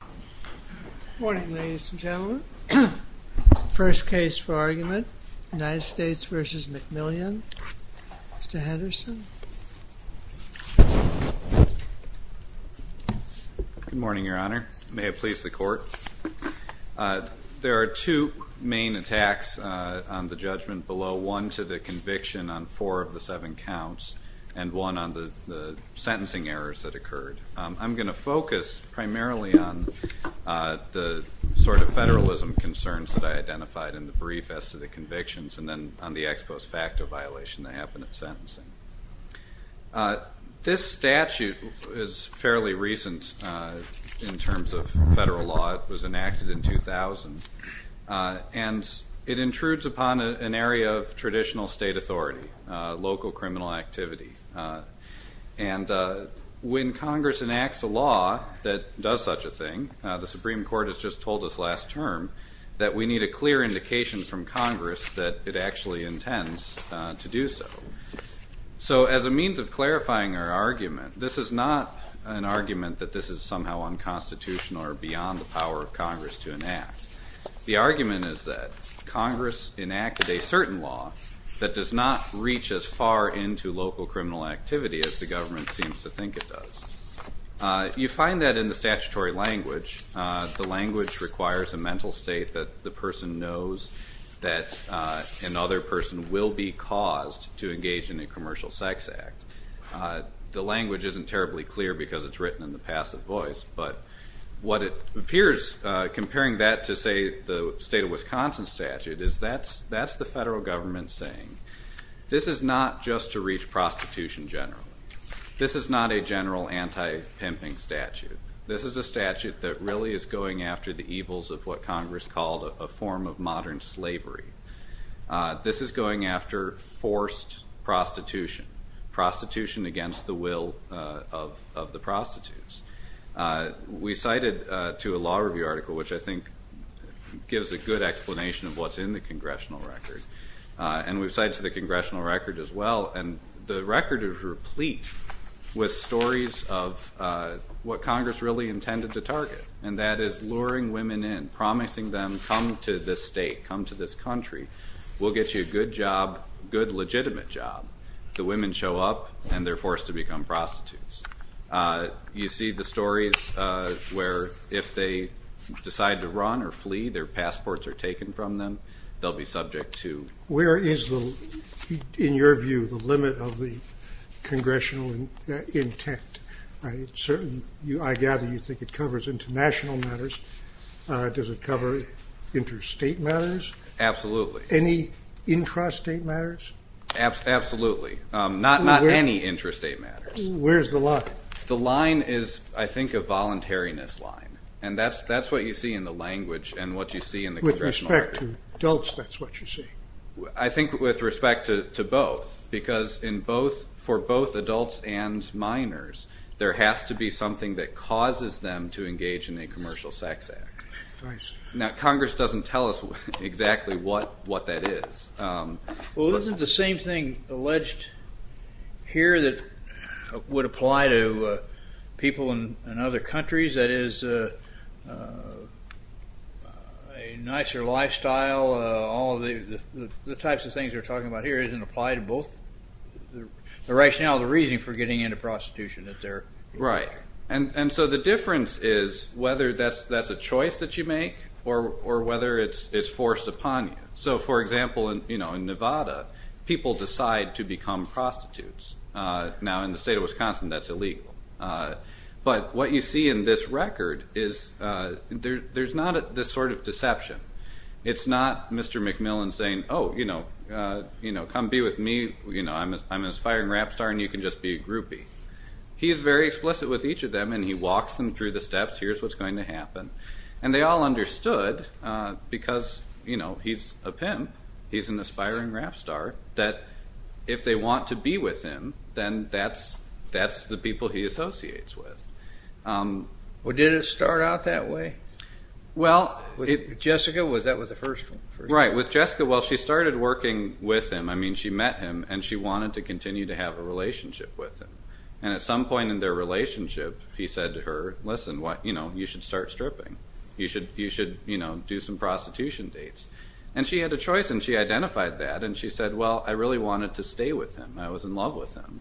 Good morning ladies and gentlemen. First case for argument, United States v. McMillian. Mr. Henderson. Good morning, Your Honor. May it please the Court. There are two main attacks on the judgment below, one to the conviction on four of the seven counts, and one on the sentencing errors that occurred. I'm going to focus primarily on the sort of federalism concerns that I identified in the brief as to the convictions, and then on the ex post facto violation that happened at sentencing. This statute is fairly recent in terms of federal law. It was enacted in 2000, and it intrudes upon an area of traditional state authority, local criminal activity. And when Congress enacts a law that does such a thing, the Supreme Court has just told us last term that we need a clear indication from Congress that it actually intends to do so. So as a means of clarifying our argument, this is not an argument that this is somehow unconstitutional or beyond the power of Congress to enact. The argument is that Congress enacted a certain law that does not reach as far into local criminal activity as the government seems to think it does. You find that in the statutory language. The language requires a mental state that the person knows that another person will be caused to engage in a commercial sex act. The language isn't terribly clear because it's written in the passive voice, but what it appears, comparing that to, say, the state of Wisconsin statute, is that's the federal government saying, this is not just to reach prostitution generally. This is not a general anti-pimping statute. This is a statute that really is going after the evils of what Congress called a form of modern slavery. This is going after forced prostitution, prostitution against the will of the prostitutes. We cited to a law review article, which I think gives a good explanation of what's in the congressional record, and we've cited to the congressional record as well, and the record is replete with stories of what Congress really intended to target, and that is luring women in, promising them, come to this state, come to this country. We'll get you a good job, good legitimate job. The women show up, and they're forced to become prostitutes. You see the stories where if they decide to run or flee, their passports are taken from them. They'll be subject to... Where is, in your view, the limit of the congressional intent? I gather you think it covers international matters. Does it cover interstate matters? Absolutely. Any intrastate matters? Absolutely. Not any intrastate matters. Where's the line? The line is, I think, a voluntariness line, and that's what you see in the language and what you see in the congressional record. With respect to adults, that's what you see? I think with respect to both, because for both adults and minors, there has to be something that causes them to engage in a commercial sex act. Nice. Now, Congress doesn't tell us exactly what that is. Well, isn't the same thing alleged here that would apply to people in other countries? That is, a nicer lifestyle, all the types of things we're talking about here, doesn't apply to both the rationale and the reason for getting into prostitution. Right. And so the difference is whether that's a choice that you make or whether it's forced upon you. So, for example, in Nevada, people decide to become prostitutes. Now, in the state of Wisconsin, that's illegal. But what you see in this record is there's not this sort of deception. It's not Mr. McMillan saying, oh, come be with me, I'm an aspiring rap star, and you can just be a groupie. He's very explicit with each of them, and he walks them through the steps, here's what's going to happen. And they all understood, because he's a pimp, he's an aspiring rap star, that if they want to be with him, then that's the people he associates with. Well, did it start out that way? With Jessica, that was the first one. Right. With Jessica, well, she started working with him. I mean, she met him, and she wanted to continue to have a relationship with him. And at some point in their relationship, he said to her, listen, you should start stripping. You should do some prostitution dates. And she had a choice, and she identified that, and she said, well, I really wanted to stay with him. I was in love with him.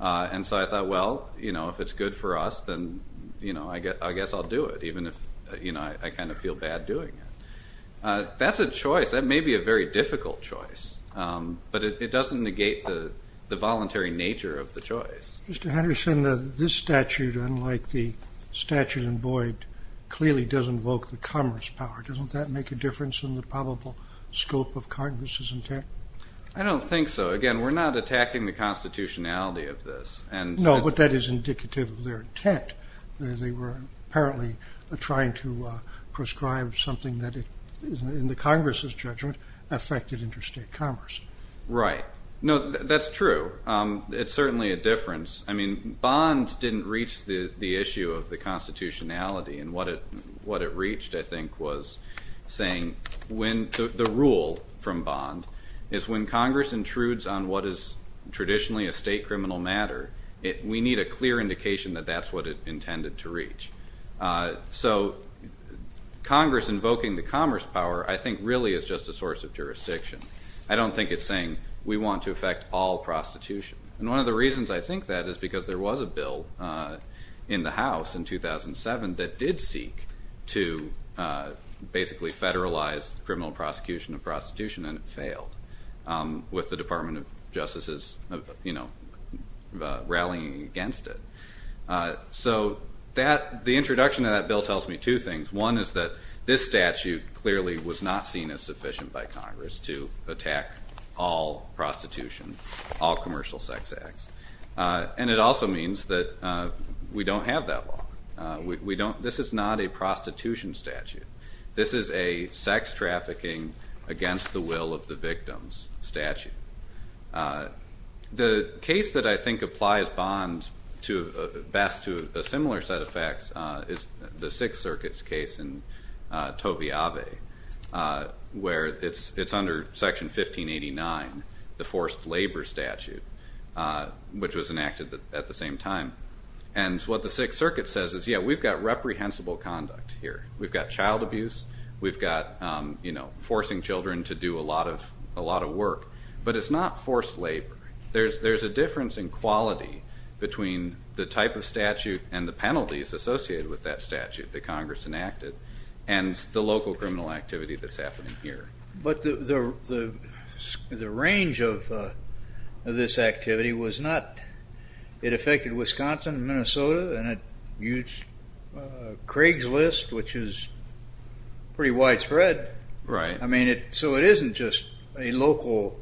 And so I thought, well, if it's good for us, then I guess I'll do it, even if I kind of feel bad doing it. That's a choice. That may be a very difficult choice, but it doesn't negate the voluntary nature of the choice. Mr. Henderson, this statute, unlike the statute in Boyd, clearly does invoke the Congress power. Doesn't that make a difference in the probable scope of Congress's intent? I don't think so. Again, we're not attacking the constitutionality of this. No, but that is indicative of their intent. They were apparently trying to prescribe something that, in the Congress's judgment, affected interstate commerce. Right. No, that's true. It's certainly a difference. I mean, Bond didn't reach the issue of the constitutionality. And what it reached, I think, was saying the rule from Bond is when Congress intrudes on what is traditionally a state criminal matter, we need a clear indication that that's what it intended to reach. So Congress invoking the commerce power, I think, really is just a source of jurisdiction. I don't think it's saying we want to affect all prostitution. And one of the reasons I think that is because there was a bill in the House in 2007 that did seek to basically federalize criminal prosecution of prostitution, and it failed, with the Department of Justice rallying against it. So the introduction of that bill tells me two things. One is that this statute clearly was not seen as sufficient by Congress to attack all prostitution, all commercial sex acts. And it also means that we don't have that law. This is not a prostitution statute. This is a sex trafficking against the will of the victims statute. The case that I think applies Bond best to a similar set of facts is the Sixth Circuit's case in Toby Ave, where it's under Section 1589, the forced labor statute, which was enacted at the same time. And what the Sixth Circuit says is, yeah, we've got reprehensible conduct here. We've got child abuse. We've got forcing children to do a lot of work. But it's not forced labor. There's a difference in quality between the type of statute and the penalties associated with that statute that Congress enacted, and the local criminal activity that's happening here. But the range of this activity was not. It affected Wisconsin and Minnesota, and it used Craigslist, which is pretty widespread. Right. So it isn't just a local,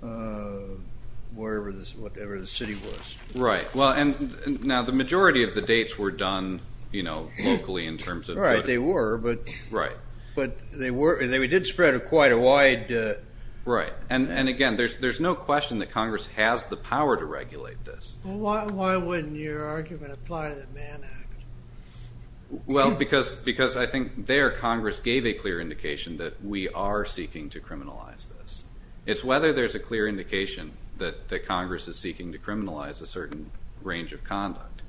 whatever the city was. Right. Now, the majority of the dates were done locally in terms of... Right, they were. Right. But they did spread quite a wide... Right. And again, there's no question that Congress has the power to regulate this. Why wouldn't your argument apply to the Mann Act? Well, because I think there Congress gave a clear indication that we are seeking to criminalize this. It's whether there's a clear indication that Congress is seeking to criminalize a certain range of conduct.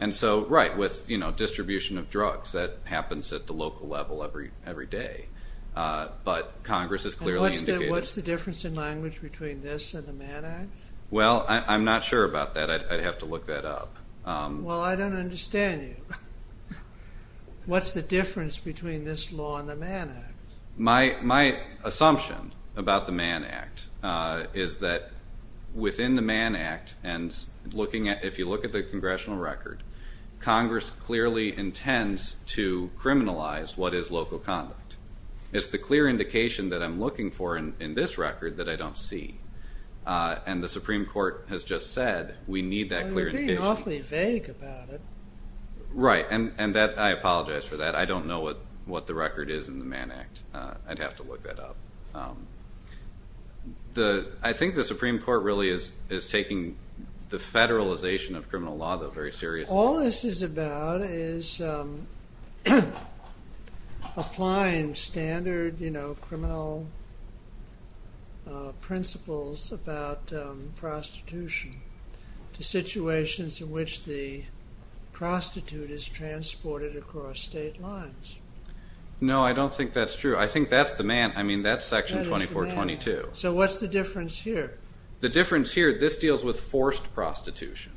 And so, right, with distribution of drugs, that happens at the local level every day. But Congress has clearly indicated... And what's the difference in language between this and the Mann Act? Well, I'm not sure about that. I'd have to look that up. Well, I don't understand you. What's the difference between this law and the Mann Act? My assumption about the Mann Act is that within the Mann Act and looking at... If you look at the congressional record, Congress clearly intends to criminalize what is local conduct. It's the clear indication that I'm looking for in this record that I don't see. And the Supreme Court has just said we need that clear indication. You're being awfully vague about it. Right, and I apologize for that. I don't know what the record is in the Mann Act. I'd have to look that up. I think the Supreme Court really is taking the federalization of criminal law very seriously. All this is about is applying standard criminal principles about prostitution to situations in which the prostitute is transported across state lines. No, I don't think that's true. I think that's the Mann... I mean, that's Section 2422. So what's the difference here? The difference here, this deals with forced prostitution.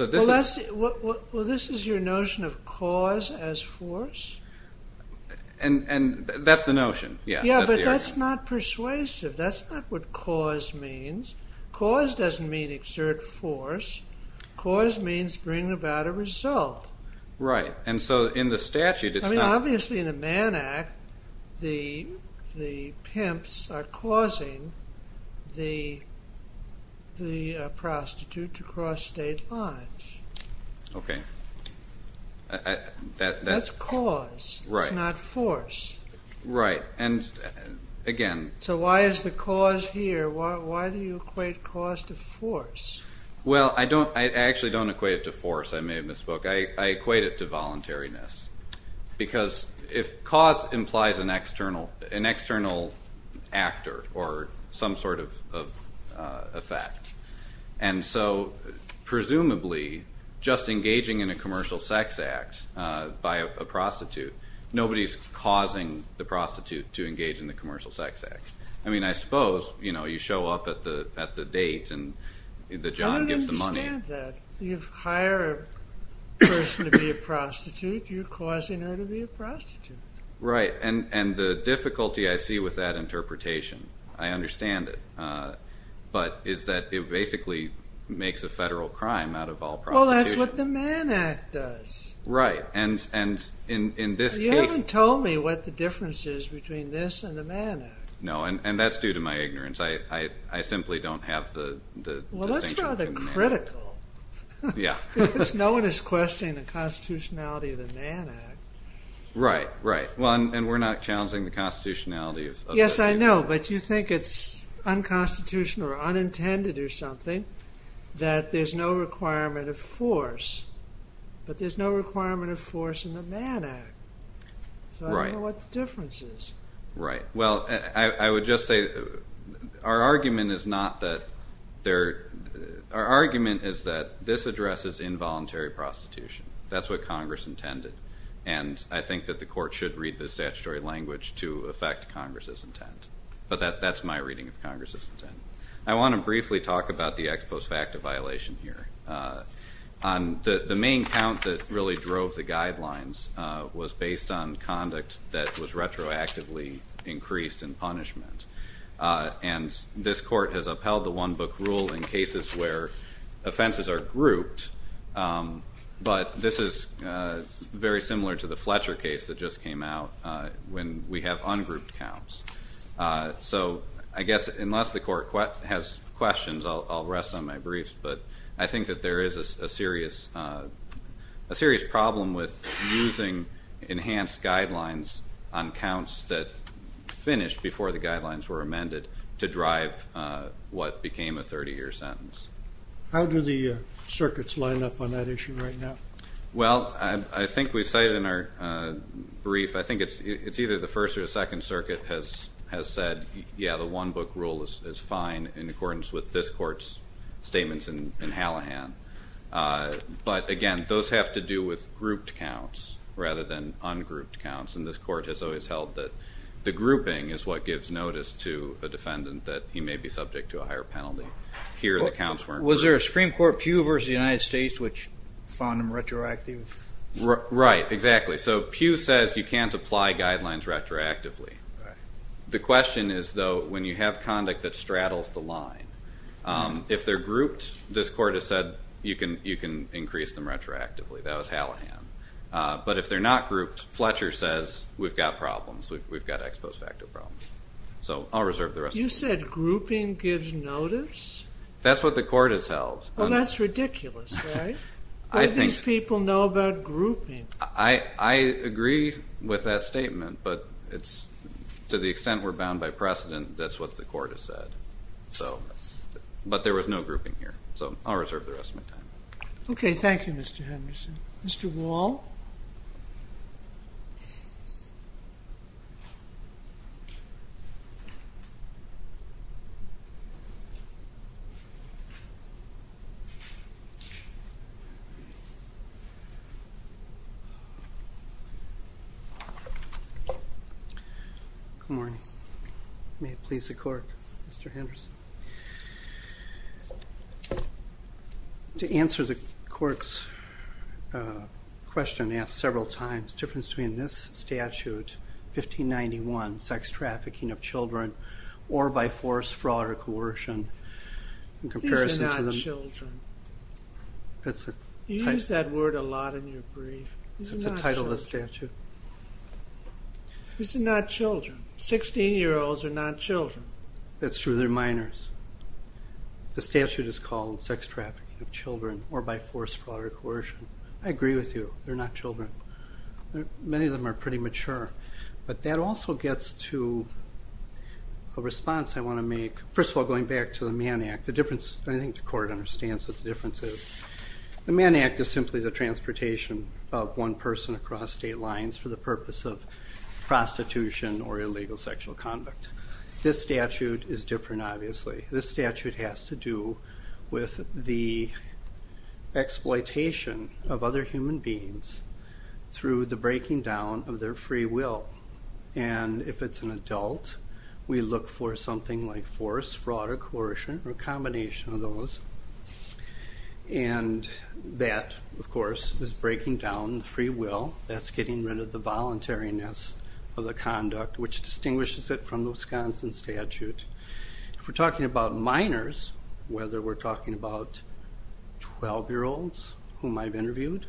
Well, this is your notion of cause as force? And that's the notion. Yeah, but that's not persuasive. That's not what cause means. Cause doesn't mean exert force. Cause means bring about a result. Right, and so in the statute it's not... Okay. That's cause. Right. It's not force. Right, and again... So why is the cause here? Why do you equate cause to force? Well, I actually don't equate it to force. I may have misspoke. I equate it to voluntariness. Because if cause implies an external actor or some sort of effect. And so, presumably, just engaging in a commercial sex act by a prostitute... Nobody's causing the prostitute to engage in the commercial sex act. I mean, I suppose, you know, you show up at the date... I don't understand that. You hire a person to be a prostitute. You're causing her to be a prostitute. Right, and the difficulty I see with that interpretation... I understand it. But is that it basically makes a federal crime out of all prostitution. Well, that's what the Mann Act does. Right, and in this case... You haven't told me what the difference is between this and the Mann Act. No, and that's due to my ignorance. I simply don't have the distinction... Well, that's rather critical. Yeah. Because no one is questioning the constitutionality of the Mann Act. Right, right. And we're not challenging the constitutionality of the Mann Act. Yes, I know. But you think it's unconstitutional or unintended or something. That there's no requirement of force. But there's no requirement of force in the Mann Act. Right. So I don't know what the difference is. Right. Well, I would just say... Our argument is not that there... Our argument is that this addresses involuntary prostitution. That's what Congress intended. And I think that the court should read the statutory language to affect Congress's intent. But that's my reading of Congress's intent. I want to briefly talk about the ex post facto violation here. The main count that really drove the guidelines was based on conduct that was retroactively increased in punishment. And this court has upheld the one-book rule in cases where offenses are grouped. But this is very similar to the Fletcher case that just came out when we have ungrouped counts. So I guess unless the court has questions, I'll rest on my briefs. But I think that there is a serious problem with using enhanced guidelines on counts that finish before the guidelines were amended to drive what became a 30-year sentence. How do the circuits line up on that issue right now? Well, I think we say it in our brief. I think it's either the First or Second Circuit has said, yeah, the one-book rule is fine in accordance with this court's statements in Hallahan. But, again, those have to do with grouped counts rather than ungrouped counts. And this court has always held that the grouping is what gives notice to a defendant that he may be subject to a higher penalty. Was there a Supreme Court pew versus the United States which found them retroactive? Right, exactly. So Pew says you can't apply guidelines retroactively. The question is, though, when you have conduct that straddles the line, if they're grouped, this court has said you can increase them retroactively. That was Hallahan. But if they're not grouped, Fletcher says we've got problems. We've got ex post facto problems. So I'll reserve the rest of my time. You said grouping gives notice? That's what the court has held. Well, that's ridiculous, right? What do these people know about grouping? I agree with that statement, but to the extent we're bound by precedent, that's what the court has said. But there was no grouping here. So I'll reserve the rest of my time. Okay, thank you, Mr. Henderson. Mr. Wall? Good morning. May it please the court, Mr. Henderson. To answer the court's question asked several times, the difference between this statute, 1591, sex trafficking of children, or by force, fraud, or coercion, in comparison to the... These are not children. You use that word a lot in your brief. It's the title of the statute. These are not children. Sixteen-year-olds are not children. That's true of their minors. The statute is called sex trafficking of children, or by force, fraud, or coercion. I agree with you. They're not children. Many of them are pretty mature. But that also gets to a response I want to make. First of all, going back to the Mann Act, I think the court understands what the difference is. The Mann Act is simply the transportation of one person across state lines for the purpose of prostitution or illegal sexual conduct. This statute is different, obviously. This statute has to do with the exploitation of other human beings through the breaking down of their free will. And if it's an adult, we look for something like force, fraud, or coercion, or a combination of those. And that, of course, is breaking down free will. That's getting rid of the voluntariness of the conduct, which distinguishes it from the Wisconsin statute. If we're talking about minors, whether we're talking about 12-year-olds, whom I've interviewed,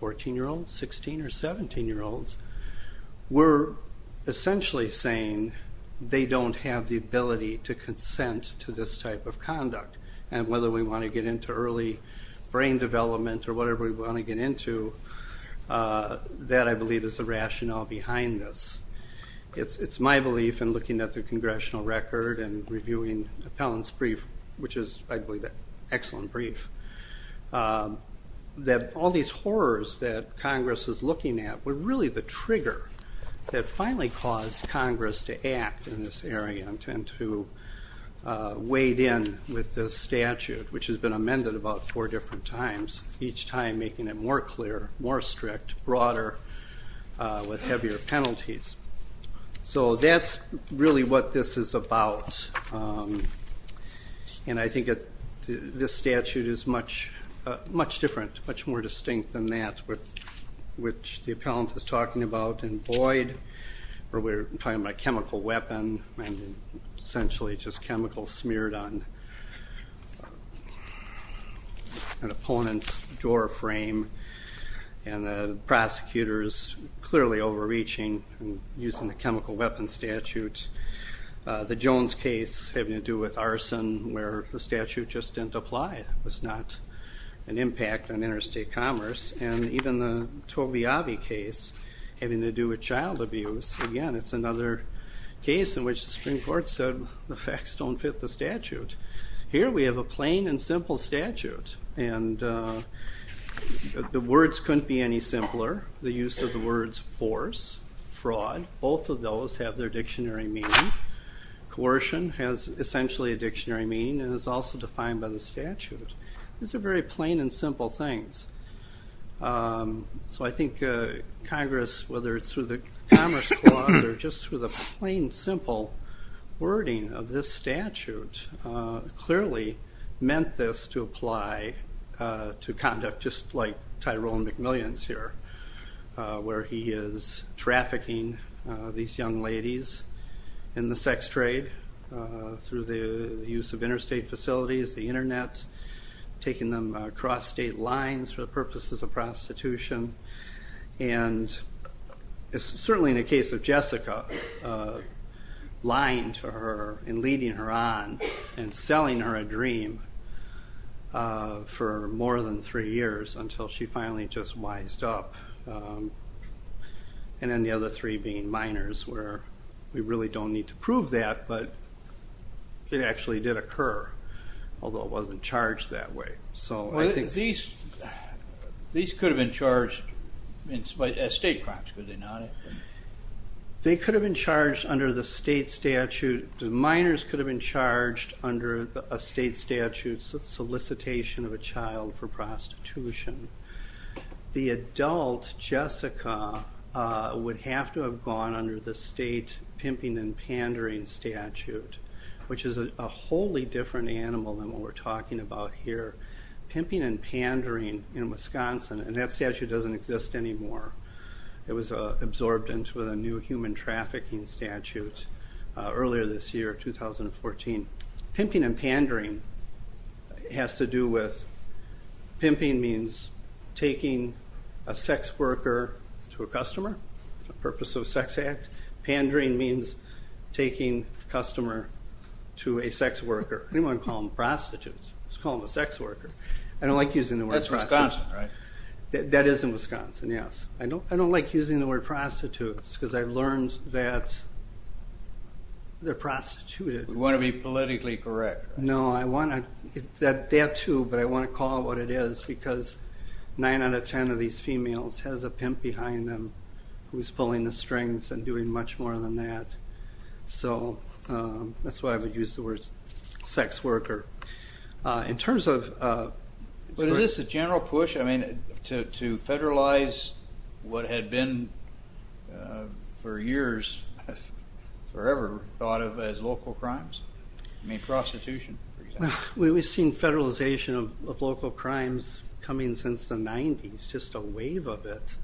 14-year-olds, 16- or 17-year-olds, we're essentially saying they don't have the ability to consent to this type of conduct. And whether we want to get into early brain development or whatever we want to get into, that, I believe, is the rationale behind this. It's my belief, in looking at the congressional record and reviewing Appellant's brief, which is, I believe, an excellent brief, that all these horrors that Congress is looking at were really the trigger that finally caused Congress to act in this area. And to wade in with this statute, which has been amended about four different times, each time making it more clear, more strict, broader, with heavier penalties. So that's really what this is about. And I think this statute is much different, much more distinct than that, which the Appellant is talking about in Boyd, where we're talking about chemical weapon, essentially just chemicals smeared on an opponent's door frame, and the prosecutor's clearly overreaching and using the chemical weapon statute. The Jones case having to do with arson, where the statute just didn't apply, was not an impact on interstate commerce. And even the Tobiavi case having to do with child abuse, again, it's another case in which the Supreme Court said the facts don't fit the statute. Here we have a plain and simple statute, and the words couldn't be any simpler. The use of the words force, fraud, both of those have their dictionary meaning. Coercion has essentially a dictionary meaning and is also defined by the statute. These are very plain and simple things. So I think Congress, whether it's through the Commerce Clause or just through the plain, simple wording of this statute, clearly meant this to apply to conduct just like Tyrone McMillian's here, where he is trafficking these young ladies in the sex trade through the use of interstate facilities, the internet, taking them across state lines for the purposes of prostitution. And it's certainly in the case of Jessica, lying to her and leading her on and selling her a dream for more than three years until she finally just wised up. And then the other three being minors, where we really don't need to prove that, but it actually did occur, although it wasn't charged that way. These could have been charged as state crimes, could they not? They could have been charged under the state statute. Minors could have been charged under a state statute, solicitation of a child for prostitution. The adult Jessica would have to have gone under the state pimping and pandering statute, which is a wholly different animal than what we're talking about here. Pimping and pandering in Wisconsin, and that statute doesn't exist anymore. It was absorbed into a new human trafficking statute earlier this year, 2014. Pimping and pandering has to do with, pimping means taking a sex worker to a customer for the purpose of a sex act. Pandering means taking a customer to a sex worker. Anyone can call them prostitutes, just call them a sex worker. I don't like using the word prostitute. That's Wisconsin, right? I don't like using the word prostitutes because I learned that they're prostituted. You want to be politically correct. No, I want to, that too, but I want to call it what it is because nine out of ten of these females has a pimp behind them who's pulling the strings and doing much more than that. So that's why I would use the word sex worker. But is this a general push to federalize what had been for years, forever, thought of as local crimes? I mean prostitution, for example. We've seen federalization of local crimes coming since the 90s, just a wave of it.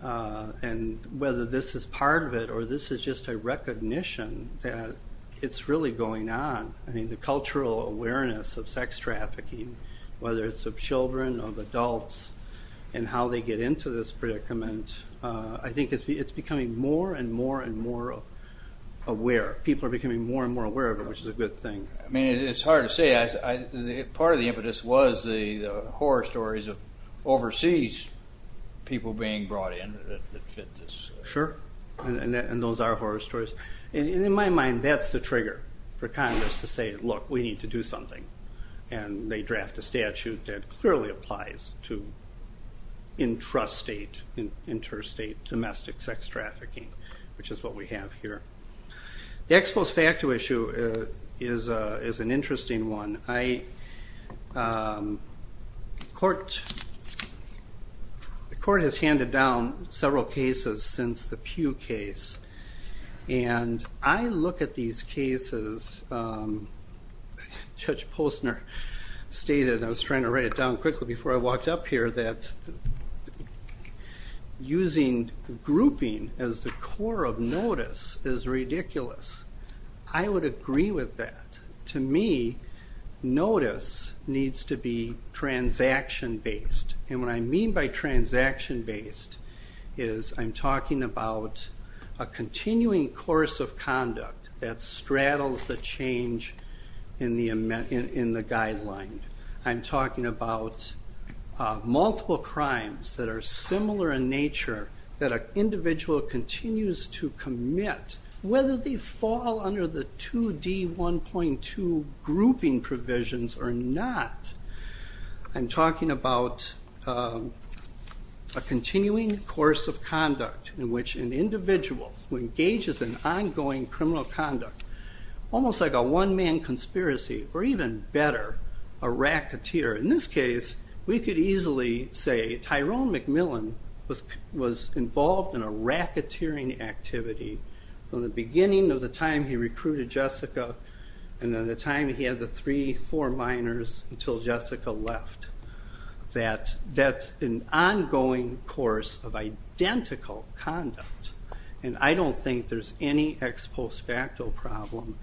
And whether this is part of it or this is just a recognition that it's really going on. I mean the cultural awareness of sex trafficking, whether it's of children, of adults, and how they get into this predicament, I think it's becoming more and more and more aware. People are becoming more and more aware of it, which is a good thing. I mean it's hard to say. Part of the impetus was the horror stories of overseas people being brought in that fit this. Sure, and those are horror stories. And in my mind, that's the trigger for Congress to say, look, we need to do something. And they draft a statute that clearly applies to interstate domestic sex trafficking, which is what we have here. The ex post facto issue is an interesting one. The court has handed down several cases since the Pew case. And I look at these cases, Judge Postner stated, I was trying to write it down quickly before I walked up here, that using grouping as the core of notice is ridiculous. I would agree with that. To me, notice needs to be transaction-based. And what I mean by transaction-based is I'm talking about a continuing course of conduct that straddles the change in the guideline. I'm talking about multiple crimes that are similar in nature, that an individual continues to commit, whether they fall under the 2D1.2 grouping provisions or not. I'm talking about a continuing course of conduct in which an individual who engages in ongoing criminal conduct, almost like a one-man conspiracy, or even better, a racketeer. In this case, we could easily say Tyrone McMillan was involved in a racketeering activity from the beginning of the time he recruited Jessica and then the time he had the three, four minors until Jessica left. That's an ongoing course of identical conduct. And I don't think there's any ex post facto problem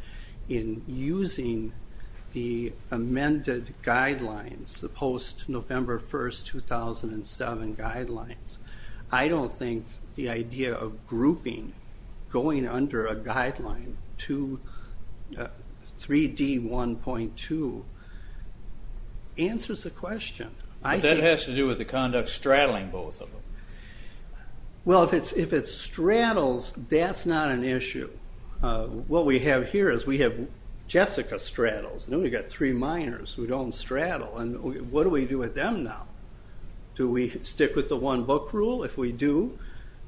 in using the amended guidelines, the post-November 1, 2007 guidelines. I don't think the idea of grouping going under a guideline to 3D1.2 answers the question. But that has to do with the conduct straddling both of them. Well, if it straddles, that's not an issue. What we have here is we have Jessica straddles, and then we've got three minors who don't straddle, and what do we do with them now? Do we stick with the one-book rule? If we do,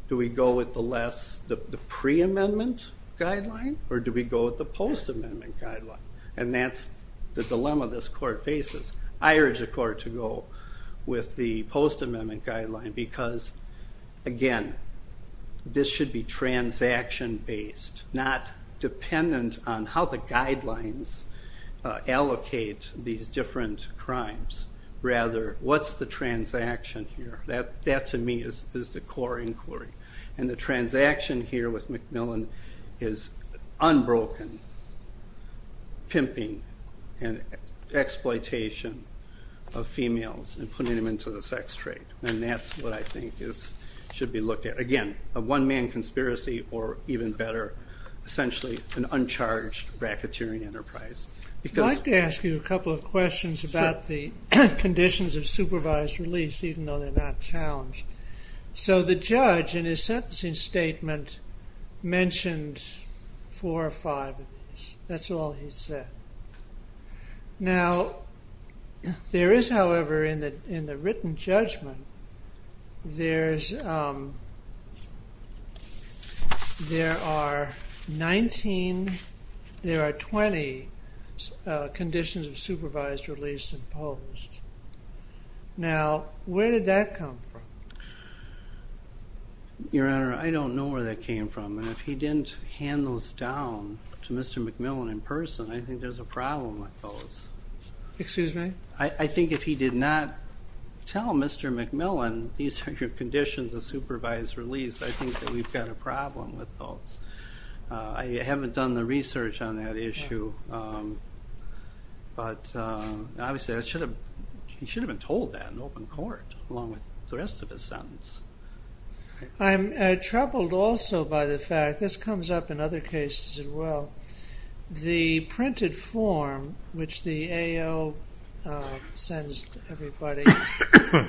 do we go with the pre-amendment guideline, or do we go with the post-amendment guideline? And that's the dilemma this court faces. I urge the court to go with the post-amendment guideline because, again, this should be transaction-based, not dependent on how the guidelines allocate these different crimes. Rather, what's the transaction here? That, to me, is the core inquiry. And the transaction here with MacMillan is unbroken pimping and exploitation of females and putting them into the sex trade, and that's what I think should be looked at. Again, a one-man conspiracy or, even better, essentially an uncharged racketeering enterprise. I'd like to ask you a couple of questions about the conditions of supervised release, even though they're not challenged. So the judge, in his sentencing statement, mentioned four or five of these. That's all he said. Now, there is, however, in the written judgment, there are 19, there are 20 conditions of supervised release imposed. Now, where did that come from? Your Honor, I don't know where that came from, and if he didn't hand those down to Mr. MacMillan in person, I think there's a problem with those. Excuse me? I think if he did not tell Mr. MacMillan these are your conditions of supervised release, I think that we've got a problem with those. I haven't done the research on that issue, but obviously he should have been told that in open court, along with the rest of his sentence. I'm troubled also by the fact, this comes up in other cases as well, the printed form which the AO sends to everybody,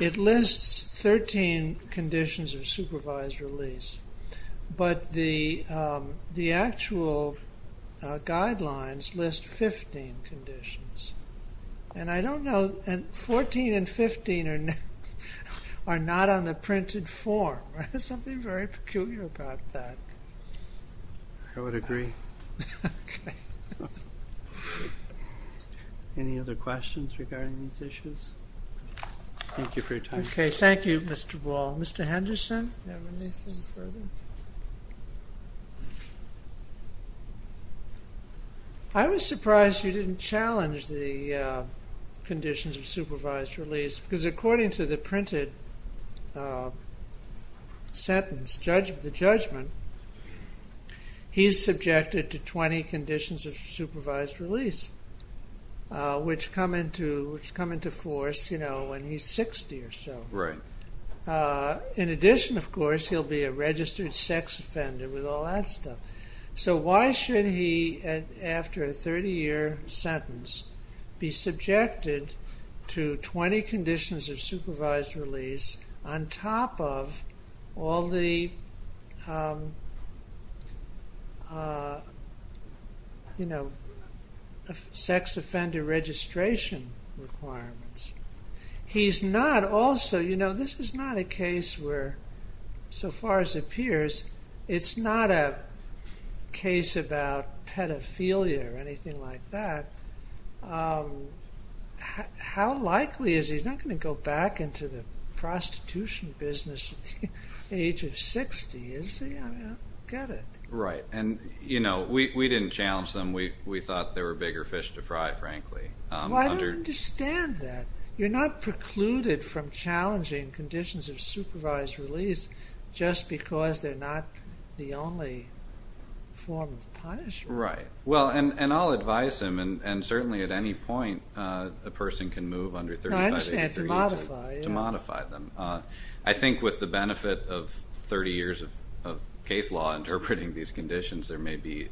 it lists 13 conditions of supervised release, but the actual guidelines list 15 conditions. And I don't know, 14 and 15 are not on the printed form. There's something very peculiar about that. I would agree. Any other questions regarding these issues? Thank you for your time. Okay, thank you, Mr. Ball. Mr. Henderson? I was surprised you didn't challenge the conditions of supervised release, because according to the printed sentence, the judgment, he's subjected to 20 conditions of supervised release, which come into force when he's 60 or so. In addition, of course, he'll be a registered sex offender with all that stuff. So why should he, after a 30-year sentence, be subjected to 20 conditions of supervised release on top of all the, you know, sex offender registration requirements? He's not also, you know, this is not a case where, so far as it appears, it's not a case about pedophilia or anything like that. How likely is he? He's not going to go back into the prostitution business at the age of 60, is he? I mean, I don't get it. Right. And, you know, we didn't challenge them. We thought they were bigger fish to fry, frankly. Well, I don't understand that. You're not precluded from challenging conditions of supervised release just because they're not the only form of punishment. Right. Well, and I'll advise him, and certainly at any point a person can move under 30. I understand, to modify. To modify them. I think with the benefit of 30 years of case law interpreting these conditions, it may be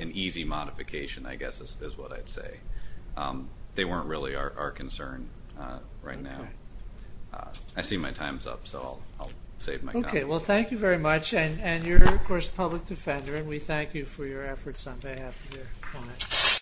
an easy modification, I guess is what I'd say. They weren't really our concern right now. Okay. I see my time's up, so I'll save my comments. Okay, well, thank you very much. And you're, of course, a public defender, and we thank you for your efforts on behalf of your clients.